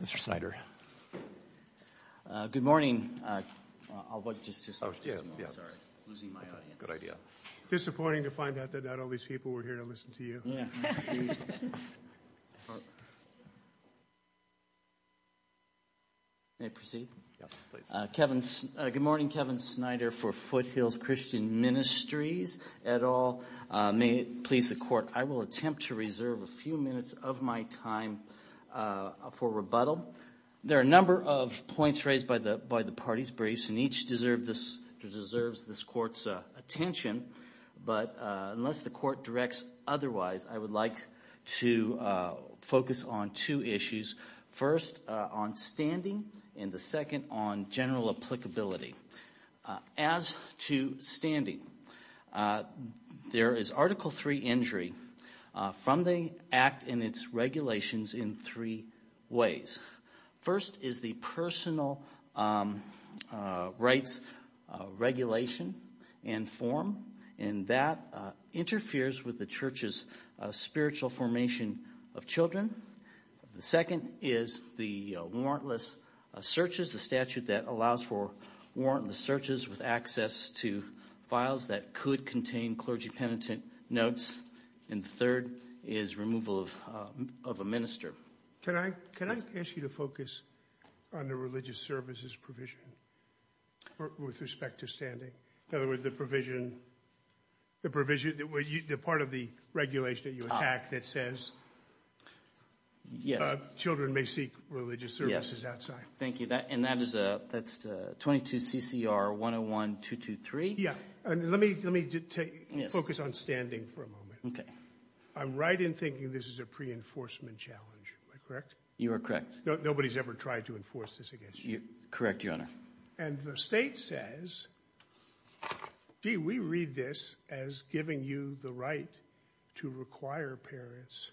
Mr. Snyder. Good morning. Disappointing to find out that not all these people were here to listen to you. May I proceed? Yes, please. Good morning, Kevin Snyder for Foothills Christian Ministries et al. May it please the court, I will attempt to reserve a few minutes of my time for rebuttal. There are a number of points raised by the party's briefs, and each deserves this court's attention. But unless the court directs otherwise, I would like to focus on two issues. First, on standing, and the second on general applicability. As to standing, there is Article III injury from the Act and its regulations in three ways. First is the personal rights regulation and form, and that interferes with the church's spiritual formation of children. The second is the warrantless searches, the statute that allows for warrantless searches with access to files that could contain clergy penitent notes. And the third is removal of a minister. Can I ask you to focus on the religious services provision with respect to standing? In other words, the provision, the part of the regulation that you attack that says children may seek religious services outside. Thank you, and that's 22 CCR 101-223. Let me focus on standing for a moment. I'm right in thinking this is a pre-enforcement challenge, am I correct? You are correct. Nobody's ever tried to enforce this against you. Correct, Your Honor. And the state says, gee, we read this as giving you the right to require parents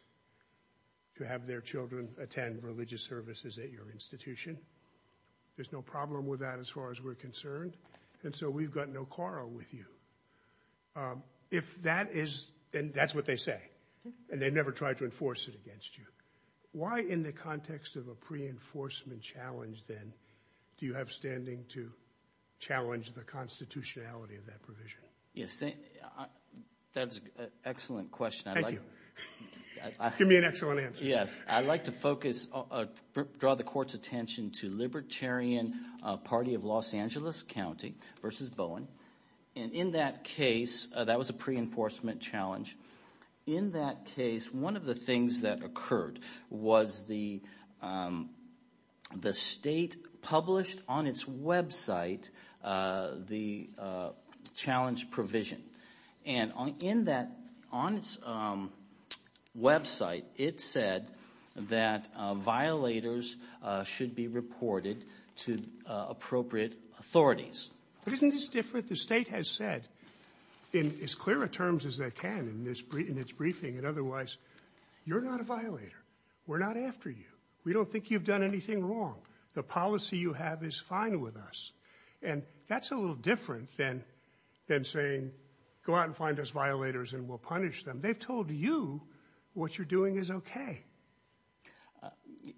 to have their children attend religious services at your institution. There's no problem with that as far as we're concerned, and so we've got no quarrel with you. If that is – and that's what they say, and they never tried to enforce it against you. Why in the context of a pre-enforcement challenge then do you have standing to challenge the constitutionality of that provision? Yes, that's an excellent question. Thank you. Give me an excellent answer. Yes, I'd like to focus – draw the court's attention to Libertarian Party of Los Angeles County v. Bowen. And in that case, that was a pre-enforcement challenge. In that case, one of the things that occurred was the state published on its website the challenge provision. And in that – on its website, it said that violators should be reported to appropriate authorities. But isn't this different? The state has said in as clear a terms as they can in its briefing and otherwise, you're not a violator. We're not after you. We don't think you've done anything wrong. The policy you have is fine with us. And that's a little different than saying go out and find us violators and we'll punish them. They've told you what you're doing is okay.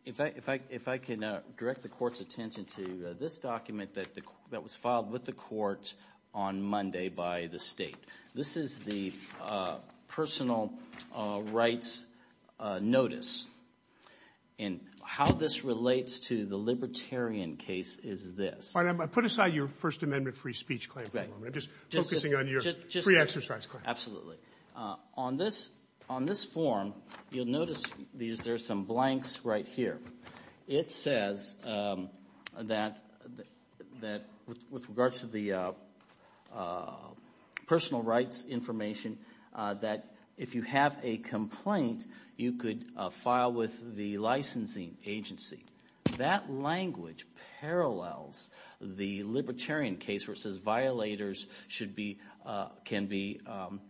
If I can direct the court's attention to this document that was filed with the court on Monday by the state. This is the personal rights notice. And how this relates to the libertarian case is this. All right. Put aside your First Amendment free speech claim for a moment. I'm just focusing on your free exercise claim. Absolutely. On this form, you'll notice there are some blanks right here. It says that with regards to the personal rights information that if you have a complaint, you could file with the licensing agency. That language parallels the libertarian case where it says violators should be – can be sent.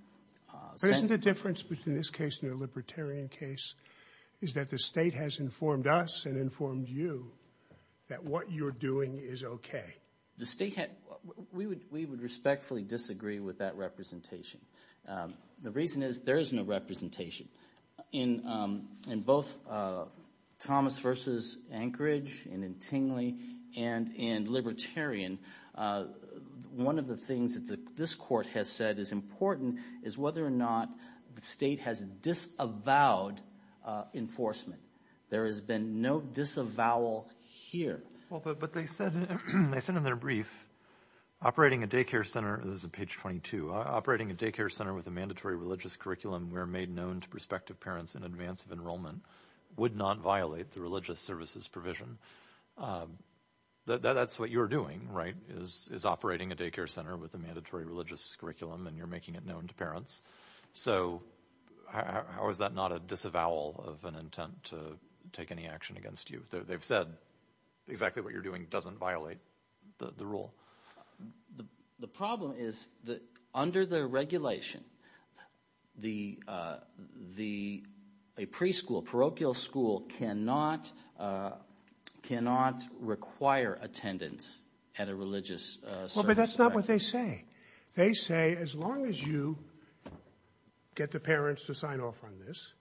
But isn't the difference between this case and your libertarian case is that the state has informed us and informed you that what you're doing is okay? The state – we would respectfully disagree with that representation. The reason is there is no representation. In both Thomas v. Anchorage and in Tingley and in libertarian, one of the things that this court has said is important is whether or not the state has disavowed enforcement. There has been no disavowal here. But they said in their brief operating a daycare center – this is page 22 – operating a daycare center with a mandatory religious curriculum where made known to prospective parents in advance of enrollment would not violate the religious services provision. That's what you're doing, right, is operating a daycare center with a mandatory religious curriculum, and you're making it known to parents. So how is that not a disavowal of an intent to take any action against you? They've said exactly what you're doing doesn't violate the rule. The problem is that under the regulation, the – a preschool, parochial school cannot – cannot require attendance at a religious service. Well, but that's not what they say. They say as long as you get the parents to sign off on this,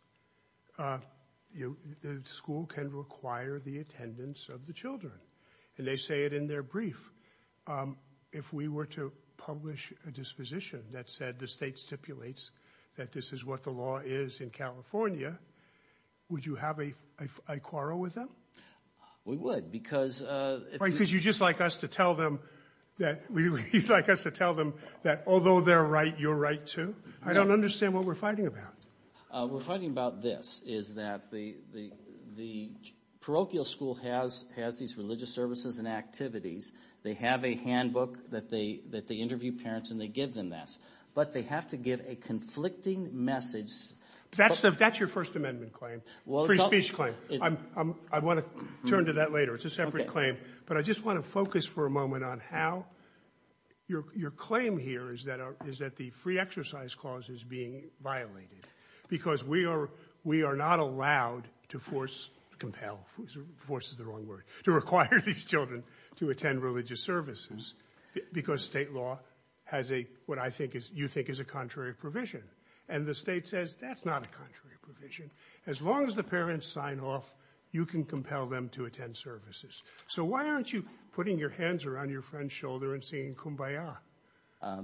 the school can require the attendance of the children. And they say it in their brief. If we were to publish a disposition that said the state stipulates that this is what the law is in California, would you have a quarrel with them? We would because – Because you'd just like us to tell them that – you'd like us to tell them that although they're right, you're right too? I don't understand what we're fighting about. We're fighting about this, is that the parochial school has these religious services and activities. They have a handbook that they interview parents, and they give them this. But they have to give a conflicting message. That's your First Amendment claim, free speech claim. I want to turn to that later. It's a separate claim, but I just want to focus for a moment on how your claim here is that the free exercise clause is being violated because we are not allowed to force – compel – force is the wrong word – to require these children to attend religious services because state law has a – what I think is – you think is a contrary provision. And the state says that's not a contrary provision. As long as the parents sign off, you can compel them to attend services. So why aren't you putting your hands around your friend's shoulder and saying kumbaya?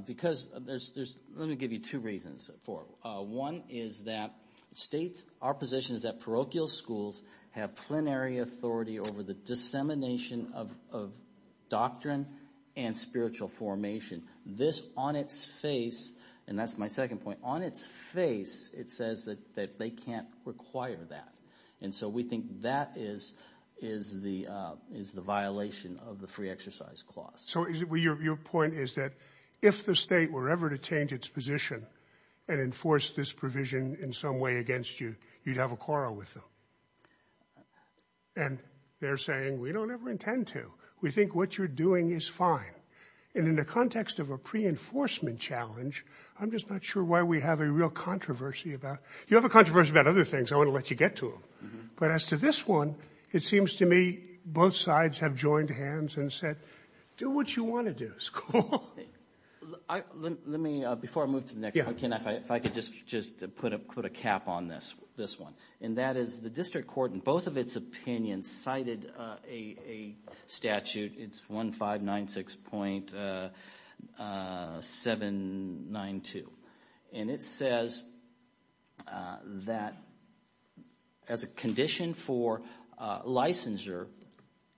Because there's – let me give you two reasons for it. One is that states – our position is that parochial schools have plenary authority over the dissemination of doctrine and spiritual formation. This on its face – and that's my second point – on its face, it says that they can't require that. And so we think that is the violation of the free exercise clause. So your point is that if the state were ever to change its position and enforce this provision in some way against you, you'd have a quarrel with them. And they're saying we don't ever intend to. We think what you're doing is fine. And in the context of a pre-enforcement challenge, I'm just not sure why we have a real controversy about – you have a controversy about other things. I want to let you get to them. But as to this one, it seems to me both sides have joined hands and said do what you want to do. Let me – before I move to the next one, Ken, if I could just put a cap on this one. And that is the district court in both of its opinions cited a statute. It's 1596.792. And it says that as a condition for licensure,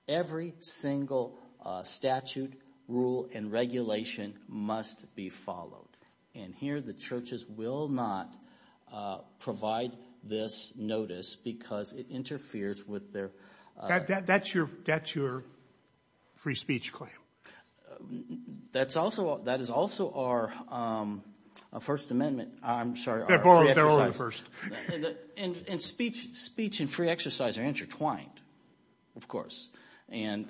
every single statute, rule, and regulation must be followed. And here the churches will not provide this notice because it interferes with their – That's your free speech claim. That's also – that is also our First Amendment – I'm sorry, our free exercise. They're over the first. And speech and free exercise are intertwined, of course. And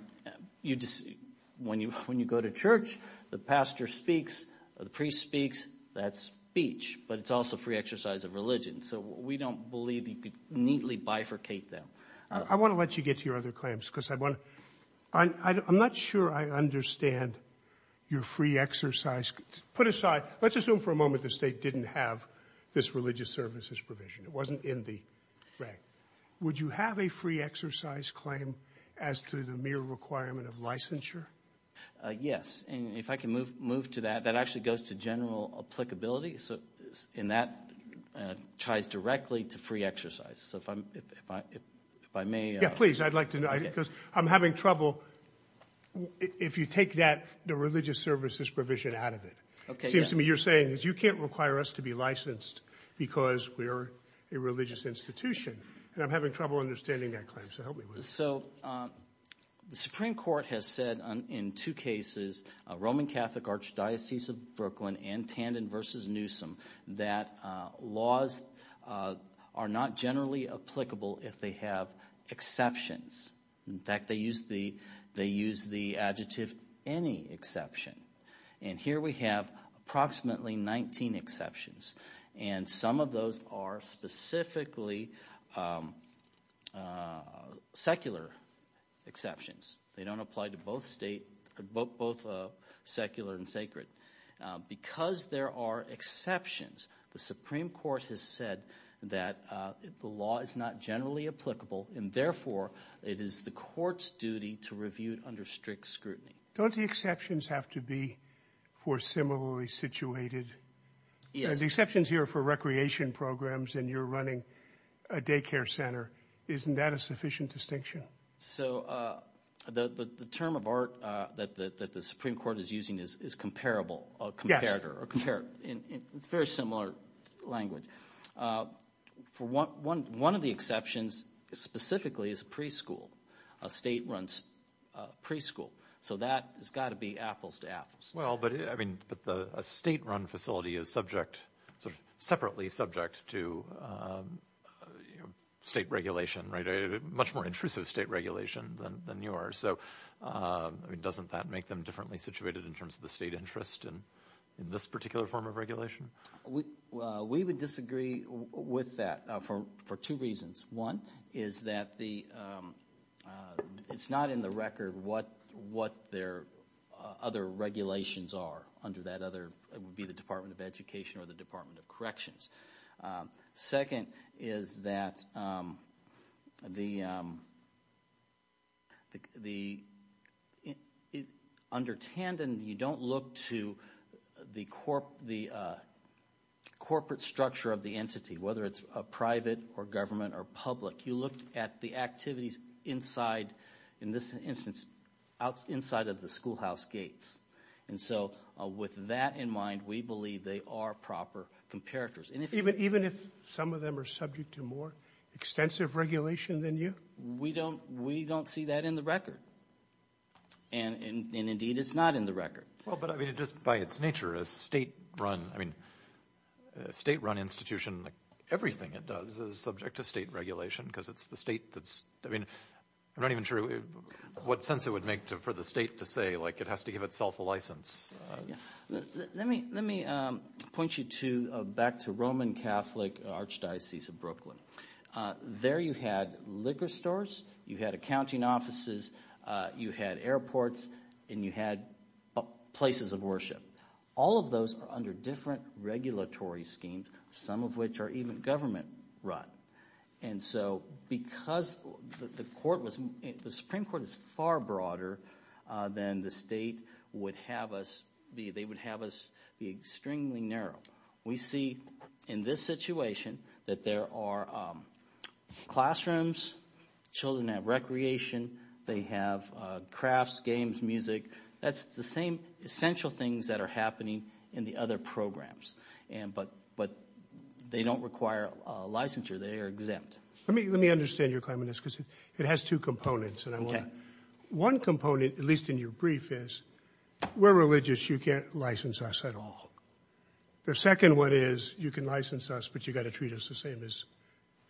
when you go to church, the pastor speaks, the priest speaks, that's speech. But it's also free exercise of religion. So we don't believe you could neatly bifurcate them. I want to let you get to your other claims because I want to – I'm not sure I understand your free exercise. Put aside – let's assume for a moment the State didn't have this religious services provision. It wasn't in the – right. Would you have a free exercise claim as to the mere requirement of licensure? Yes. And if I can move to that, that actually goes to general applicability. And that ties directly to free exercise. So if I may – Yeah, please. I'd like to – because I'm having trouble – if you take that religious services provision out of it. It seems to me you're saying is you can't require us to be licensed because we're a religious institution. And I'm having trouble understanding that claim, so help me with it. So the Supreme Court has said in two cases, Roman Catholic Archdiocese of Brooklyn and Tandon v. Newsom, that laws are not generally applicable if they have exceptions. In fact, they use the adjective any exception. And here we have approximately 19 exceptions. And some of those are specifically secular exceptions. They don't apply to both state – both secular and sacred. Because there are exceptions, the Supreme Court has said that the law is not generally applicable, and therefore it is the court's duty to review it under strict scrutiny. Don't the exceptions have to be for similarly situated? Yes. The exceptions here are for recreation programs, and you're running a daycare center. Isn't that a sufficient distinction? So the term of art that the Supreme Court is using is comparable or comparator. It's a very similar language. One of the exceptions specifically is a preschool, a state-run preschool. So that has got to be apples to apples. Well, but a state-run facility is separately subject to state regulation, much more intrusive state regulation than yours. So doesn't that make them differently situated in terms of the state interest in this particular form of regulation? We would disagree with that for two reasons. One is that the – it's not in the record what their other regulations are under that other – it would be the Department of Education or the Department of Corrections. Second is that the – under Tandon, you don't look to the corporate structure of the entity, whether it's private or government or public. You look at the activities inside – in this instance, inside of the schoolhouse gates. And so with that in mind, we believe they are proper comparators. Even if some of them are subject to more extensive regulation than you? We don't see that in the record. And indeed, it's not in the record. Well, but, I mean, just by its nature, a state-run institution, everything it does is subject to state regulation because it's the state that's – I mean, I'm not even sure what sense it would make for the state to say, like, it has to give itself a license. Let me point you back to Roman Catholic Archdiocese of Brooklyn. There you had liquor stores, you had accounting offices, you had airports, and you had places of worship. All of those are under different regulatory schemes, some of which are even government-run. And so because the court was – the Supreme Court is far broader than the state would have us be. They would have us be extremely narrow. We see in this situation that there are classrooms. Children have recreation. They have crafts, games, music. That's the same essential things that are happening in the other programs. But they don't require a licensure. They are exempt. Let me understand your claim on this because it has two components. One component, at least in your brief, is we're religious. You can't license us at all. The second one is you can license us, but you've got to treat us the same as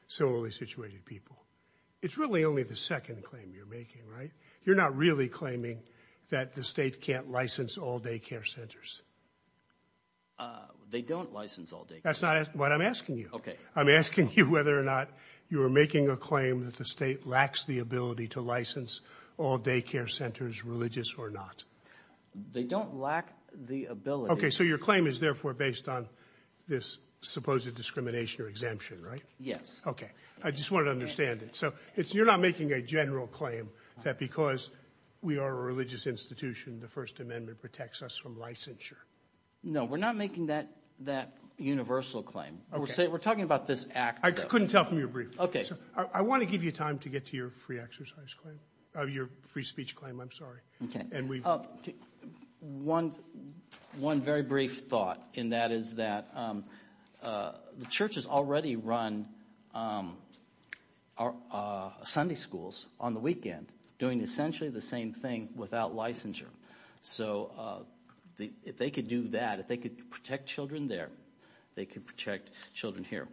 similarly situated people. It's really only the second claim you're making, right? You're not really claiming that the state can't license all daycare centers. They don't license all daycare centers. That's not what I'm asking you. Okay. I'm asking you whether or not you're making a claim that the state lacks the ability to license all daycare centers, religious or not. They don't lack the ability. So your claim is therefore based on this supposed discrimination or exemption, right? Yes. Okay. I just wanted to understand it. So you're not making a general claim that because we are a religious institution, the First Amendment protects us from licensure. No, we're not making that universal claim. We're talking about this act, though. I couldn't tell from your brief. Okay. I want to give you time to get to your free exercise claim, your free speech claim, I'm sorry. Okay. One very brief thought, and that is that the church has already run Sunday schools on the weekend doing essentially the same thing without licensure. So if they could do that, if they could protect children there, they could protect children here.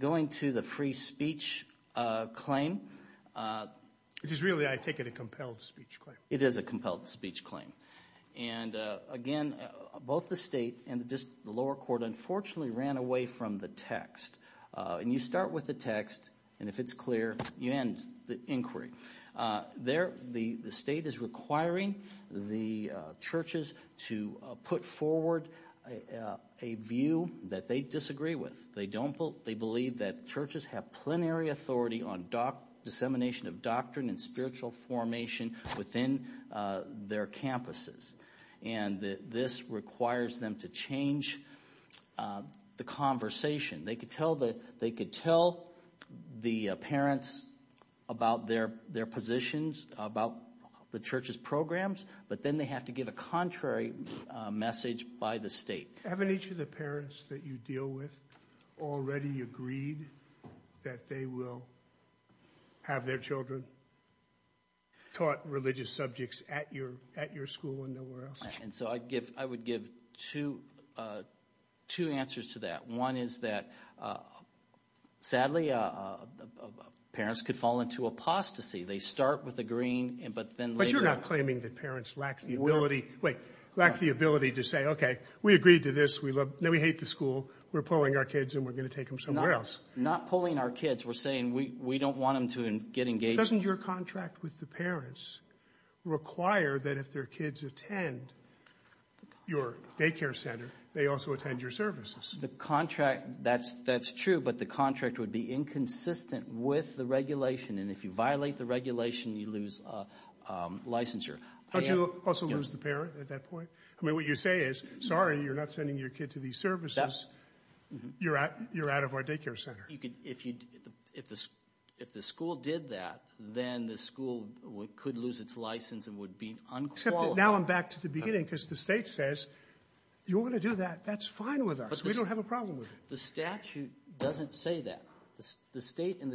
Going to the free speech claim. It is really, I take it, a compelled speech claim. It is a compelled speech claim. And again, both the state and the lower court unfortunately ran away from the text. And you start with the text, and if it's clear, you end the inquiry. There, the state is requiring the churches to put forward a view that they disagree with. They believe that churches have plenary authority on dissemination of doctrine and spiritual formation within their campuses. And this requires them to change the conversation. They could tell the parents about their positions, about the church's programs, but then they have to give a contrary message by the state. Haven't each of the parents that you deal with already agreed that they will have their children taught religious subjects at your school and nowhere else? And so I would give two answers to that. One is that, sadly, parents could fall into apostasy. They start with agreeing, but then later – No, we hate the school. We're pulling our kids, and we're going to take them somewhere else. Not pulling our kids. We're saying we don't want them to get engaged. Doesn't your contract with the parents require that if their kids attend your daycare center, they also attend your services? The contract – that's true, but the contract would be inconsistent with the regulation. And if you violate the regulation, you lose a licensure. Don't you also lose the parent at that point? I mean, what you say is, sorry, you're not sending your kid to these services. You're out of our daycare center. If the school did that, then the school could lose its license and would be unqualified. Except that now I'm back to the beginning because the state says, you want to do that, that's fine with us. We don't have a problem with it. The statute doesn't say that. The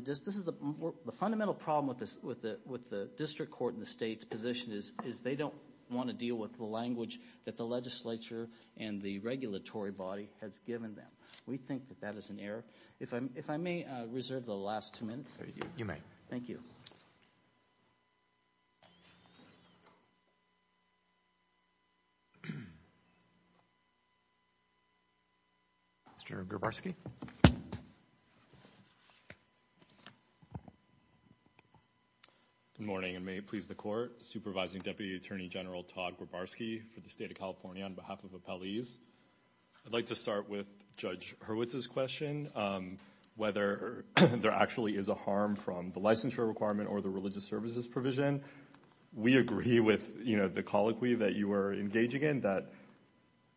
fundamental problem with the district court and the state's position is they don't want to deal with the language that the legislature and the regulatory body has given them. We think that that is an error. If I may reserve the last two minutes. You may. Thank you. Mr. Grabarsky? Good morning, and may it please the court. Supervising Deputy Attorney General Todd Grabarsky for the state of California on behalf of appellees. I'd like to start with Judge Hurwitz's question, whether there actually is a harm from the licensure requirement or the religious services provision. We agree with the colloquy that you were engaging in,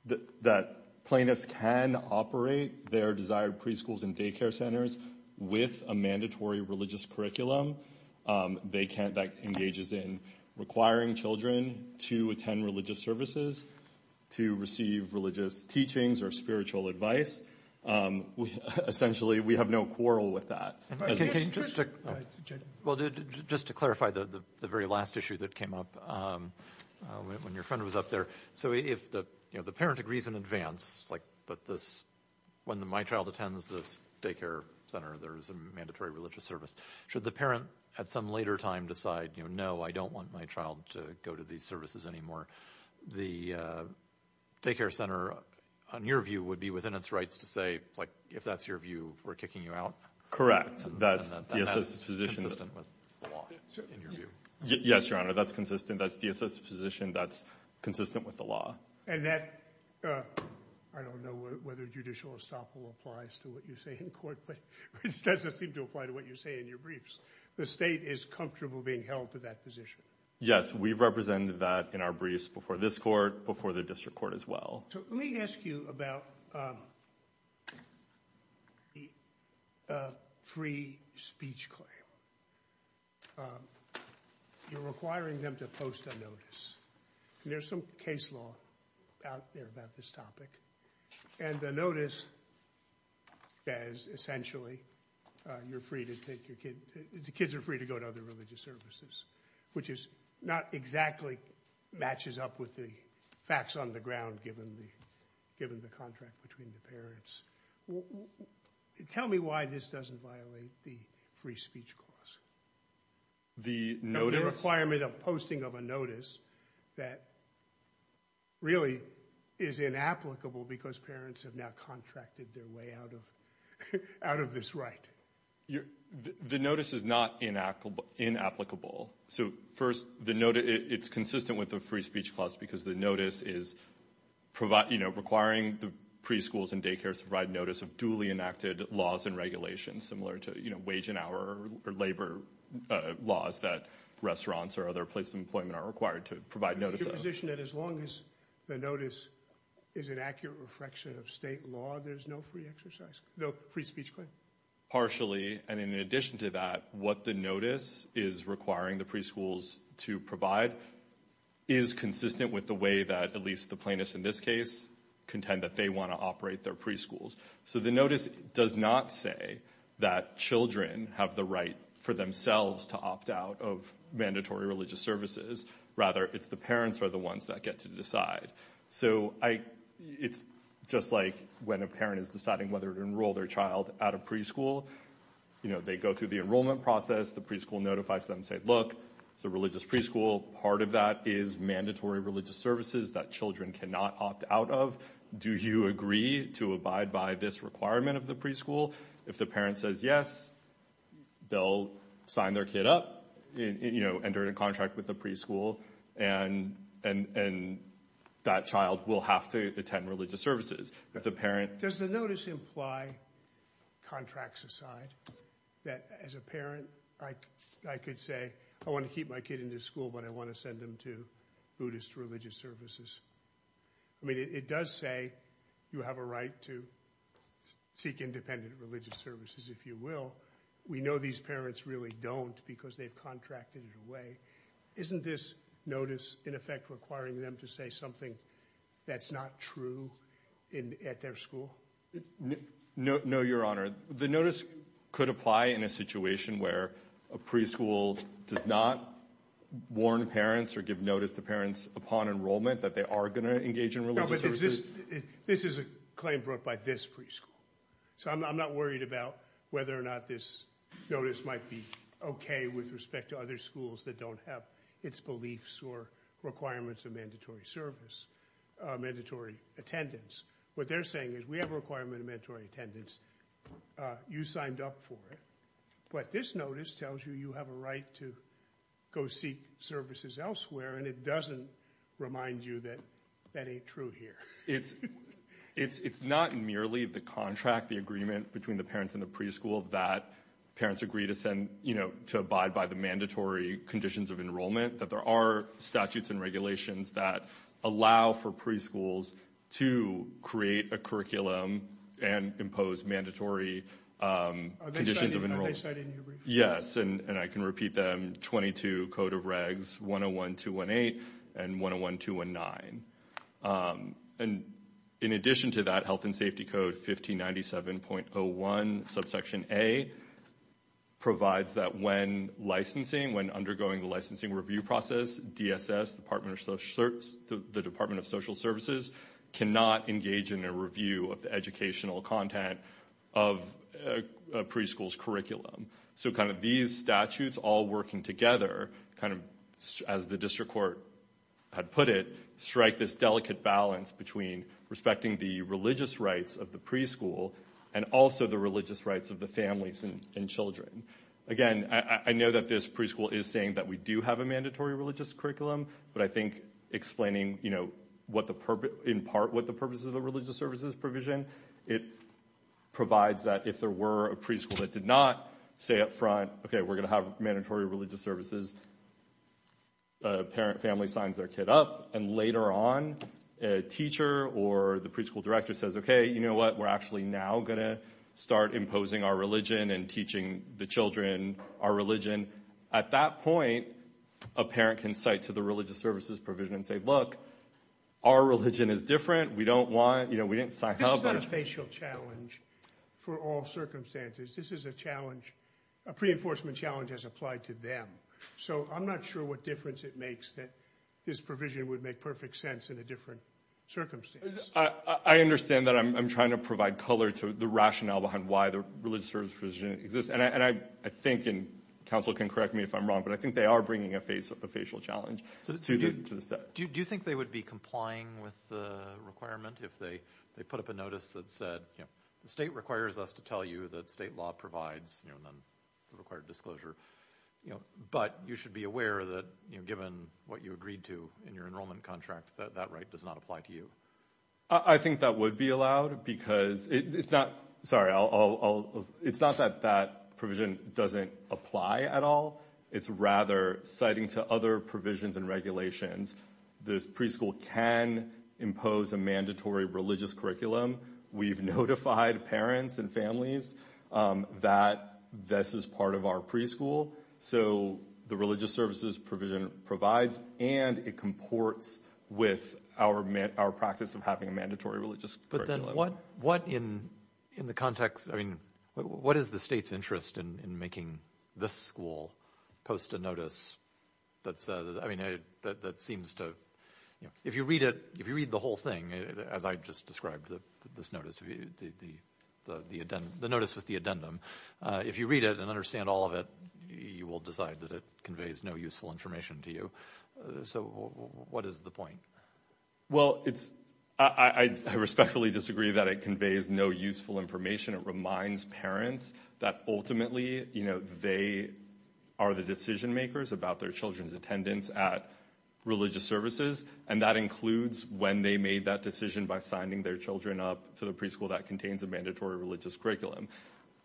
that plaintiffs can operate their desired preschools and daycare centers with a mandatory religious curriculum that engages in requiring children to attend religious services, to receive religious teachings or spiritual advice. Essentially, we have no quarrel with that. Well, just to clarify the very last issue that came up when your friend was up there. So if the parent agrees in advance that when my child attends this daycare center, there is a mandatory religious service, should the parent at some later time decide, no, I don't want my child to go to these services anymore? The daycare center, on your view, would be within its rights to say, if that's your view, we're kicking you out? Correct. That's DSS's position. That's consistent with the law, in your view? Yes, Your Honor, that's consistent. That's DSS's position. That's consistent with the law. And that, I don't know whether judicial estoppel applies to what you say in court, but it doesn't seem to apply to what you say in your briefs. The state is comfortable being held to that position. Yes, we've represented that in our briefs before this court, before the district court as well. Let me ask you about the free speech claim. You're requiring them to post a notice. There's some case law out there about this topic. And the notice says, essentially, you're free to take your kid – the kids are free to go to other religious services, which is – not exactly matches up with the facts on the ground, given the contract between the parents. Tell me why this doesn't violate the free speech clause. The notice? The requirement of posting of a notice that really is inapplicable because parents have now contracted their way out of this right. The notice is not inapplicable. So, first, it's consistent with the free speech clause because the notice is requiring the preschools and daycares to provide notice of duly enacted laws and regulations, similar to wage and hour or labor laws that restaurants or other places of employment are required to provide notice of. Is your position that as long as the notice is an accurate reflection of state law, there's no free exercise – no free speech claim? Partially, and in addition to that, what the notice is requiring the preschools to provide is consistent with the way that, at least the plaintiffs in this case, contend that they want to operate their preschools. So the notice does not say that children have the right for themselves to opt out of mandatory religious services. Rather, it's the parents who are the ones that get to decide. So it's just like when a parent is deciding whether to enroll their child at a preschool. They go through the enrollment process. The preschool notifies them and says, look, it's a religious preschool. Part of that is mandatory religious services that children cannot opt out of. Do you agree to abide by this requirement of the preschool? If the parent says yes, they'll sign their kid up, enter into a contract with the preschool, and that child will have to attend religious services. If the parent – Does the notice imply, contracts aside, that as a parent I could say, I want to keep my kid in this school, but I want to send him to Buddhist religious services? I mean, it does say you have a right to seek independent religious services, if you will. We know these parents really don't because they've contracted it away. Isn't this notice, in effect, requiring them to say something that's not true at their school? No, Your Honor. The notice could apply in a situation where a preschool does not warn parents or give notice to parents upon enrollment that they are going to engage in religious services. No, but this is a claim brought by this preschool. So I'm not worried about whether or not this notice might be okay with respect to other schools that don't have its beliefs or requirements of mandatory service, mandatory attendance. What they're saying is we have a requirement of mandatory attendance. You signed up for it. But this notice tells you you have a right to go seek services elsewhere, and it doesn't remind you that that ain't true here. It's not merely the contract, the agreement between the parents and the preschool that parents agree to abide by the mandatory conditions of enrollment, that there are statutes and regulations that allow for preschools to create a curriculum and impose mandatory conditions of enrollment. Are they cited in your brief? Yes, and I can repeat them, 22 Code of Regs 101-218 and 101-219. And in addition to that, Health and Safety Code 1597.01, subsection A, provides that when licensing, when undergoing the licensing review process, DSS, the Department of Social Services, cannot engage in a review of the educational content of a preschool's curriculum. So kind of these statutes all working together, kind of as the district court had put it, strike this delicate balance between respecting the religious rights of the preschool and also the religious rights of the families and children. Again, I know that this preschool is saying that we do have a mandatory religious curriculum, but I think explaining in part what the purpose of the religious services provision, it provides that if there were a preschool that did not say up front, okay, we're going to have mandatory religious services, the parent family signs their kid up, and later on a teacher or the preschool director says, okay, you know what, we're actually now going to start imposing our religion and teaching the children our religion. At that point, a parent can cite to the religious services provision and say, look, our religion is different, we don't want, you know, we didn't sign up. This is not a facial challenge for all circumstances. This is a challenge, a pre-enforcement challenge has applied to them. So I'm not sure what difference it makes that this provision would make perfect sense in a different circumstance. I understand that I'm trying to provide color to the rationale behind why the religious services provision exists, and I think, and counsel can correct me if I'm wrong, but I think they are bringing a facial challenge to the state. Do you think they would be complying with the requirement if they put up a notice that said, the state requires us to tell you that state law provides the required disclosure, but you should be aware that given what you agreed to in your enrollment contract, that that right does not apply to you? I think that would be allowed because it's not, sorry, it's not that that provision doesn't apply at all. It's rather citing to other provisions and regulations. The preschool can impose a mandatory religious curriculum. We've notified parents and families that this is part of our preschool. So the religious services provision provides and it comports with our practice of having a mandatory religious curriculum. But then what in the context, I mean, what is the state's interest in making this school post a notice that says, I mean, that seems to, if you read it, if you read the whole thing, as I just described this notice, the notice with the addendum, if you read it and understand all of it, you will decide that it conveys no useful information to you. So what is the point? Well, it's I respectfully disagree that it conveys no useful information. It reminds parents that ultimately, you know, they are the decision makers about their children's attendance at religious services. And that includes when they made that decision by signing their children up to the preschool that contains a mandatory religious curriculum.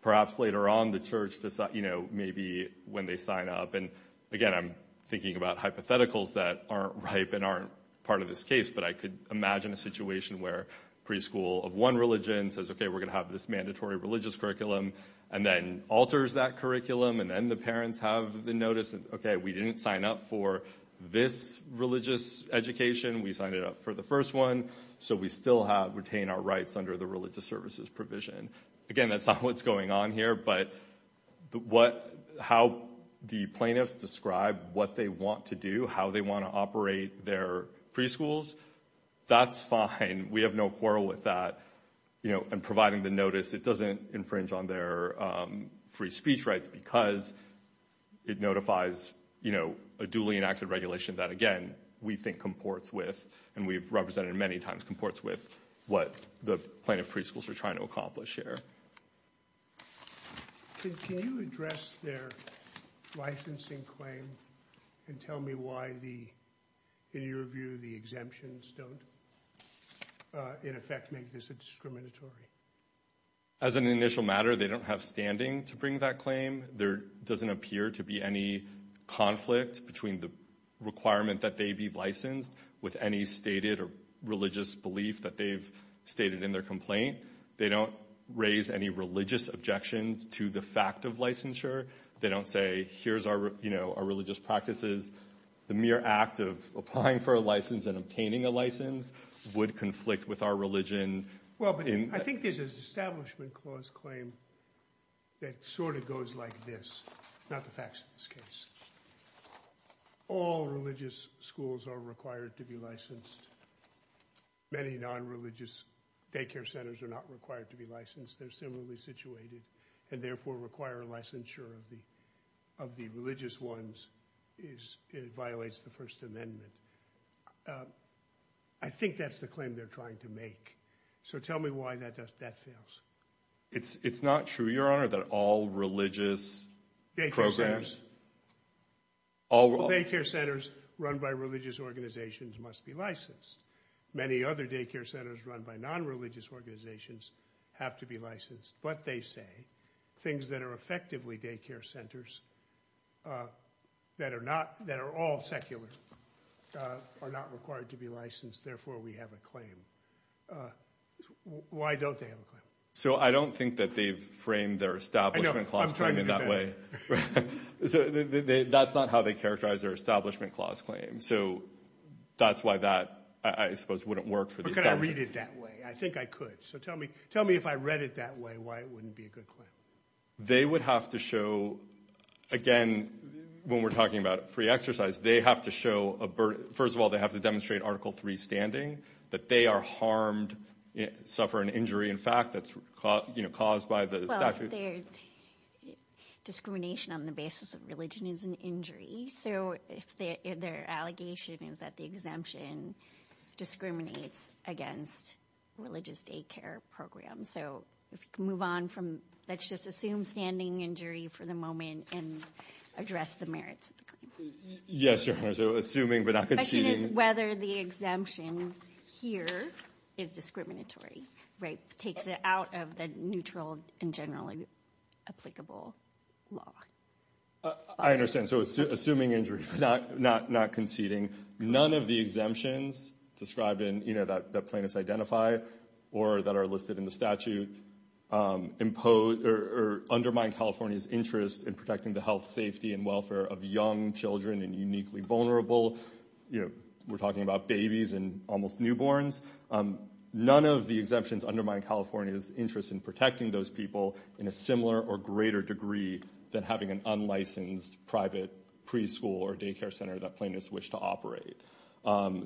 Perhaps later on the church, you know, maybe when they sign up. And again, I'm thinking about hypotheticals that aren't ripe and aren't part of this case. But I could imagine a situation where preschool of one religion says, OK, we're going to have this mandatory religious curriculum and then alters that curriculum. And then the parents have the notice that, OK, we didn't sign up for this religious education. We signed it up for the first one. So we still have retained our rights under the religious services provision. Again, that's not what's going on here. But what how the plaintiffs describe what they want to do, how they want to operate their preschools, that's fine. We have no quarrel with that. You know, and providing the notice, it doesn't infringe on their free speech rights because it notifies, you know, a duly enacted regulation that, again, we think comports with and we've represented many times, that it comports with what the plaintiff preschools are trying to accomplish here. Can you address their licensing claim and tell me why the in your view, the exemptions don't in effect make this a discriminatory? As an initial matter, they don't have standing to bring that claim. There doesn't appear to be any conflict between the requirement that they be licensed with any stated religious belief that they've stated in their complaint. They don't raise any religious objections to the fact of licensure. They don't say, here's our, you know, our religious practices. The mere act of applying for a license and obtaining a license would conflict with our religion. Well, I think there's an establishment clause claim that sort of goes like this. Not the facts of this case. All religious schools are required to be licensed. Many non-religious daycare centers are not required to be licensed. They're similarly situated and therefore require licensure of the religious ones. It violates the First Amendment. I think that's the claim they're trying to make. So tell me why that fails. It's not true, Your Honor, that all religious programs. Daycare centers run by religious organizations must be licensed. Many other daycare centers run by non-religious organizations have to be licensed. But they say things that are effectively daycare centers that are all secular are not required to be licensed. Therefore, we have a claim. Why don't they have a claim? So I don't think that they've framed their establishment clause claim in that way. That's not how they characterize their establishment clause claim. So that's why that, I suppose, wouldn't work for the establishment. How could I read it that way? I think I could. So tell me if I read it that way why it wouldn't be a good claim. They would have to show, again, when we're talking about free exercise, they have to show a burden. First of all, they have to demonstrate Article III standing, that they are harmed, suffer an injury. In fact, that's caused by the statute. Well, discrimination on the basis of religion is an injury. So their allegation is that the exemption discriminates against religious daycare programs. Let's just assume standing injury for the moment and address the merits of the claim. Yes, Your Honor, so assuming but not conceding. The question is whether the exemption here is discriminatory, right, takes it out of the neutral and generally applicable law. I understand. So assuming injury but not conceding. None of the exemptions described in, you know, that plaintiffs identify or that are listed in the statute impose or undermine California's interest in protecting the health, safety, and welfare of young children and uniquely vulnerable. You know, we're talking about babies and almost newborns. None of the exemptions undermine California's interest in protecting those people in a similar or greater degree than having an unlicensed private preschool or daycare center that plaintiffs wish to operate.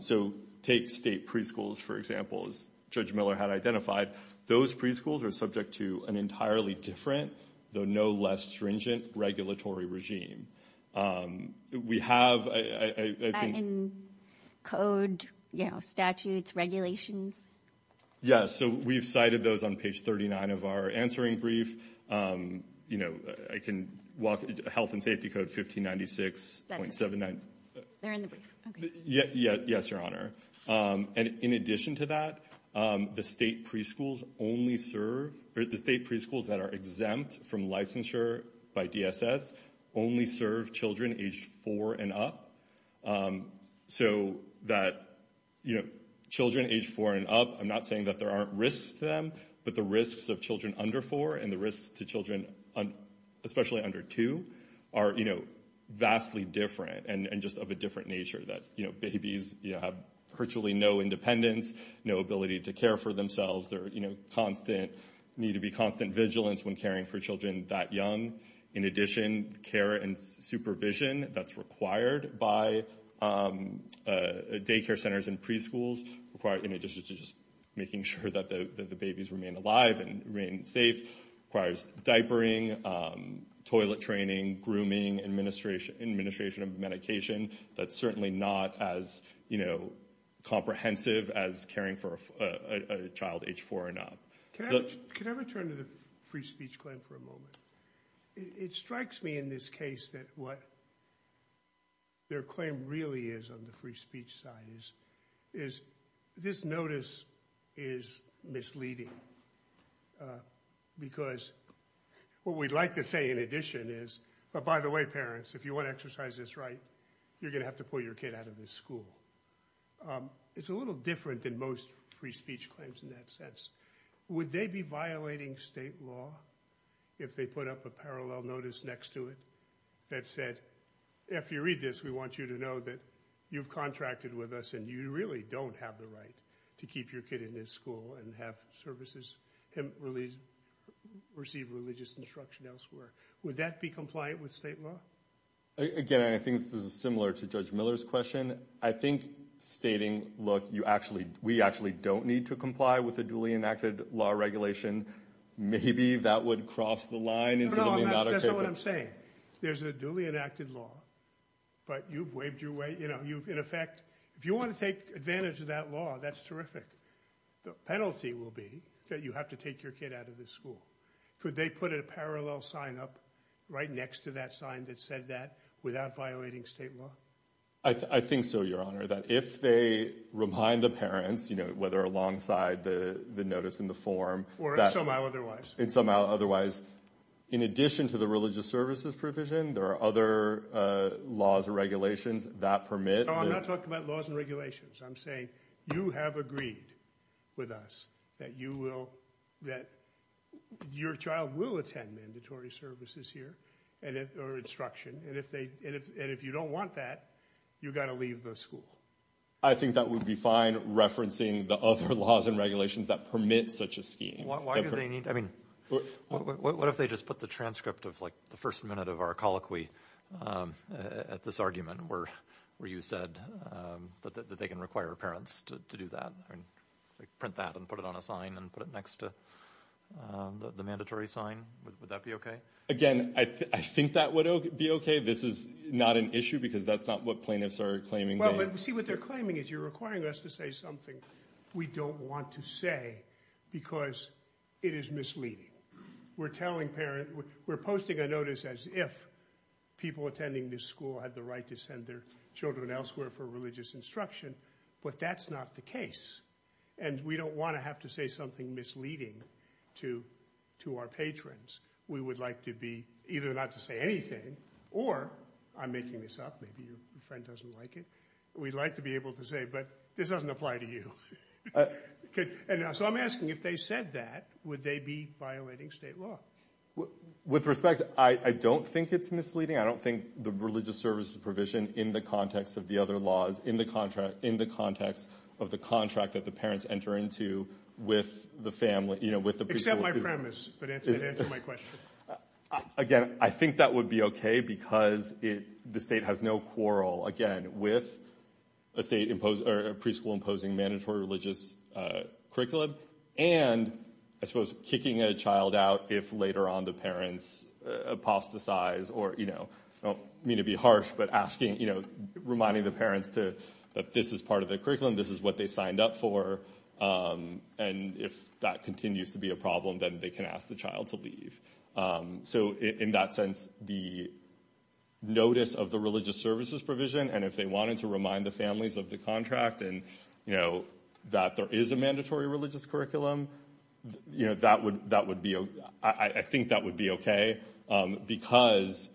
So take state preschools, for example, as Judge Miller had identified. Those preschools are subject to an entirely different, though no less stringent, regulatory regime. We have, I think- In code, you know, statutes, regulations. Yes, so we've cited those on page 39 of our answering brief. You know, I can walk, health and safety code 1596.79. They're in the brief. Yes, Your Honor. And in addition to that, the state preschools only serve, or the state preschools that are exempt from licensure by DSS only serve children age four and up. So that, you know, children age four and up, I'm not saying that there aren't risks to them, but the risks of children under four and the risks to children, especially under two, are, you know, vastly different and just of a different nature that, you know, babies have virtually no independence, no ability to care for themselves. They're, you know, need to be constant vigilance when caring for children that young. In addition, care and supervision that's required by daycare centers and preschools, in addition to just making sure that the babies remain alive and remain safe, requires diapering, toilet training, grooming, administration of medication. That's certainly not as, you know, comprehensive as caring for a child age four and up. Can I return to the free speech claim for a moment? It strikes me in this case that what their claim really is on the free speech side is this notice is misleading because what we'd like to say in addition is, but by the way, parents, if you want to exercise this right, you're going to have to pull your kid out of this school. It's a little different than most free speech claims in that sense. Would they be violating state law if they put up a parallel notice next to it that said, if you read this, we want you to know that you've contracted with us and you really don't have the right to keep your kid in this school and have services, receive religious instruction elsewhere. Would that be compliant with state law? Again, I think this is similar to Judge Miller's question. I think stating, look, you actually, we actually don't need to comply with the duly enacted law regulation. Maybe that would cross the line. That's not what I'm saying. There's a duly enacted law, but you've waved your way. You know, you've, in effect, if you want to take advantage of that law, that's terrific. The penalty will be that you have to take your kid out of this school. Could they put a parallel sign up right next to that sign that said that without violating state law? I think so, Your Honor, that if they remind the parents, you know, whether alongside the notice in the form. Or in some way otherwise. In some way otherwise. In addition to the religious services provision, there are other laws or regulations that permit. No, I'm not talking about laws and regulations. I'm saying you have agreed with us that you will, that your child will attend mandatory services here or instruction. And if they, and if you don't want that, you've got to leave the school. I think that would be fine referencing the other laws and regulations that permit such a scheme. Why do they need, I mean, what if they just put the transcript of like the first minute of our colloquy at this argument where you said that they can require parents to do that? Print that and put it on a sign and put it next to the mandatory sign? Would that be okay? Again, I think that would be okay. This is not an issue because that's not what plaintiffs are claiming. Well, see what they're claiming is you're requiring us to say something we don't want to say because it is misleading. We're telling parents, we're posting a notice as if people attending this school had the right to send their children elsewhere for religious instruction. But that's not the case. And we don't want to have to say something misleading to our patrons. We would like to be either not to say anything or I'm making this up. Maybe your friend doesn't like it. We'd like to be able to say, but this doesn't apply to you. So I'm asking if they said that, would they be violating state law? With respect, I don't think it's misleading. I don't think the religious services provision in the context of the other laws, in the context of the contract that the parents enter into with the family. Except my premise, but answer my question. Again, I think that would be okay because the state has no quarrel, again, with a state or a preschool imposing mandatory religious curriculum. And I suppose kicking a child out if later on the parents apostatize or, you know, I don't mean to be harsh, but reminding the parents that this is part of the curriculum. This is what they signed up for. And if that continues to be a problem, then they can ask the child to leave. So in that sense, the notice of the religious services provision and if they wanted to remind the families of the contract and, you know, that there is a mandatory religious curriculum. You know, that would be, I think that would be okay because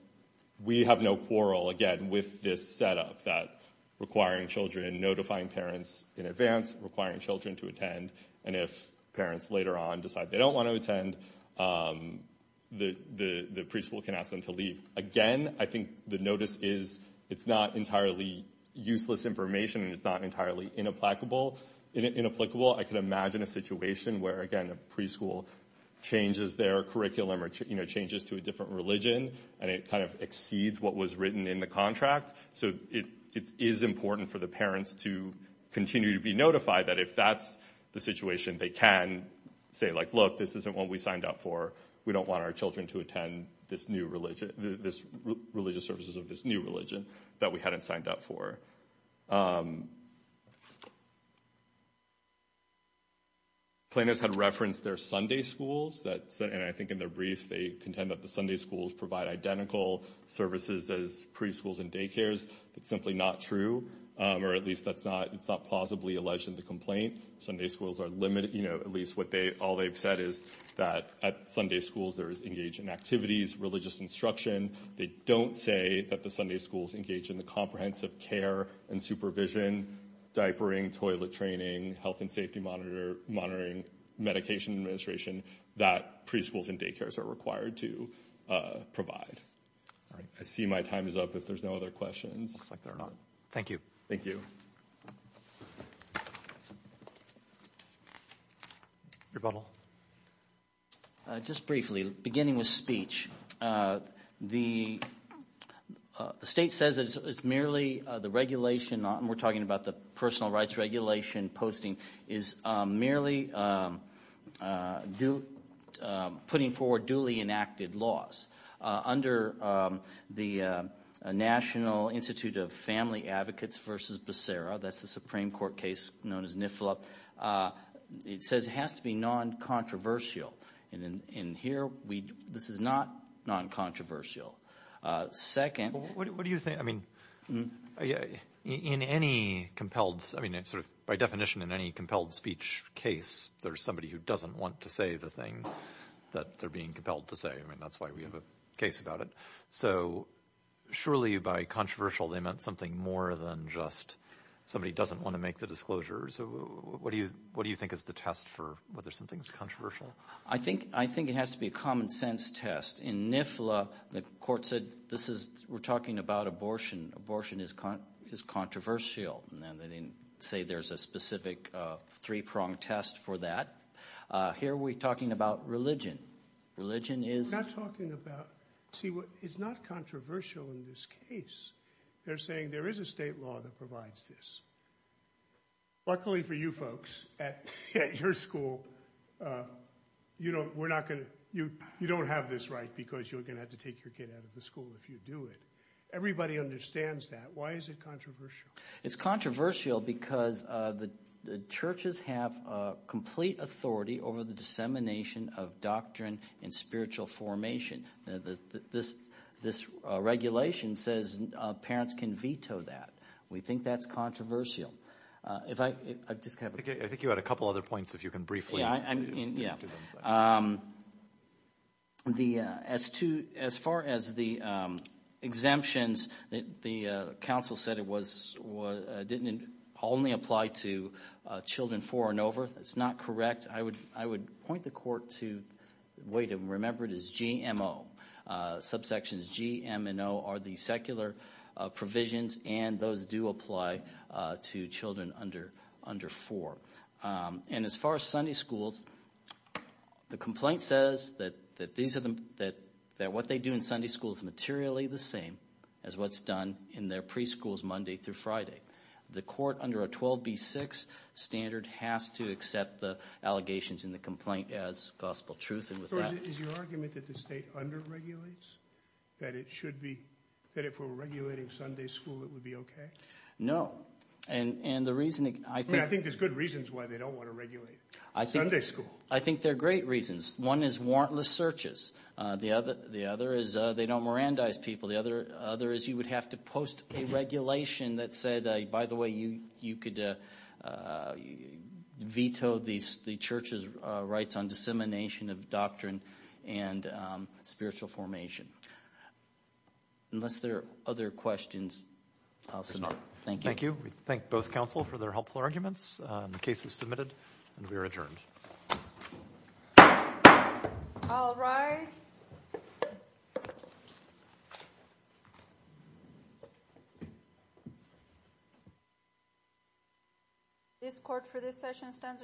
we have no quarrel, again, with this setup that requiring children, notifying parents in advance, requiring children to attend. And if parents later on decide they don't want to attend, the preschool can ask them to leave. Again, I think the notice is, it's not entirely useless information and it's not entirely inapplicable. I can imagine a situation where, again, a preschool changes their curriculum or, you know, changes to a different religion and it kind of exceeds what was written in the contract. So it is important for the parents to continue to be notified that if that's the situation, they can say like, look, this isn't what we signed up for. We don't want our children to attend this new religion, this religious services of this new religion that we hadn't signed up for. Planners had referenced their Sunday schools that, and I think in their briefs they contend that the Sunday schools provide identical services as preschools and daycares. That's simply not true, or at least that's not, it's not plausibly alleged in the complaint. Sunday schools are limited, you know, at least what they, all they've said is that at Sunday schools there is engaged in activities, religious instruction. They don't say that the Sunday schools engage in the comprehensive care and supervision, diapering, toilet training, health and safety monitoring, medication administration that preschools and daycares are required to provide. I see my time is up if there's no other questions. Looks like there are not. Thank you. Thank you. Rebuttal. Just briefly, beginning with speech, the state says it's merely the regulation, and we're talking about the personal rights regulation posting, is merely putting forward duly enacted laws. Under the National Institute of Family Advocates v. Becerra, that's the Supreme Court case known as NIFLA, it says it has to be non-controversial. And here we, this is not non-controversial. Second. What do you think, I mean, in any compelled, I mean, sort of by definition in any compelled speech case, there's somebody who doesn't want to say the thing that they're being compelled to say. I mean, that's why we have a case about it. So surely by controversial they meant something more than just somebody doesn't want to make the disclosure. So what do you think is the test for whether something is controversial? I think it has to be a common sense test. In NIFLA, the court said this is, we're talking about abortion. Abortion is controversial. And they didn't say there's a specific three-prong test for that. Here we're talking about religion. Religion is. We're not talking about. See, it's not controversial in this case. They're saying there is a state law that provides this. Luckily for you folks at your school, you don't have this right because you're going to have to take your kid out of the school if you do it. Everybody understands that. Why is it controversial? It's controversial because the churches have complete authority over the dissemination of doctrine and spiritual formation. This regulation says parents can veto that. We think that's controversial. I think you had a couple other points if you can briefly. Yeah. As far as the exemptions, the council said it didn't only apply to children four and over. That's not correct. I would point the court to the way to remember it is GMO. Subsections G, M, and O are the secular provisions, and those do apply to children under four. As far as Sunday schools, the complaint says that what they do in Sunday school is materially the same as what's done in their preschools Monday through Friday. The court under a 12B6 standard has to accept the allegations in the complaint as gospel truth. Is your argument that the state under-regulates, that if we're regulating Sunday school, it would be okay? No. I think there's good reasons why they don't want to regulate Sunday school. I think there are great reasons. One is warrantless searches. The other is they don't Mirandize people. The other is you would have to post a regulation that said, by the way, you could veto the church's rights on dissemination of doctrine and spiritual formation. Unless there are other questions, I'll submit. Thank you. Thank you. We thank both counsel for their helpful arguments. The case is submitted, and we are adjourned. All rise. This court for this session stands adjourned.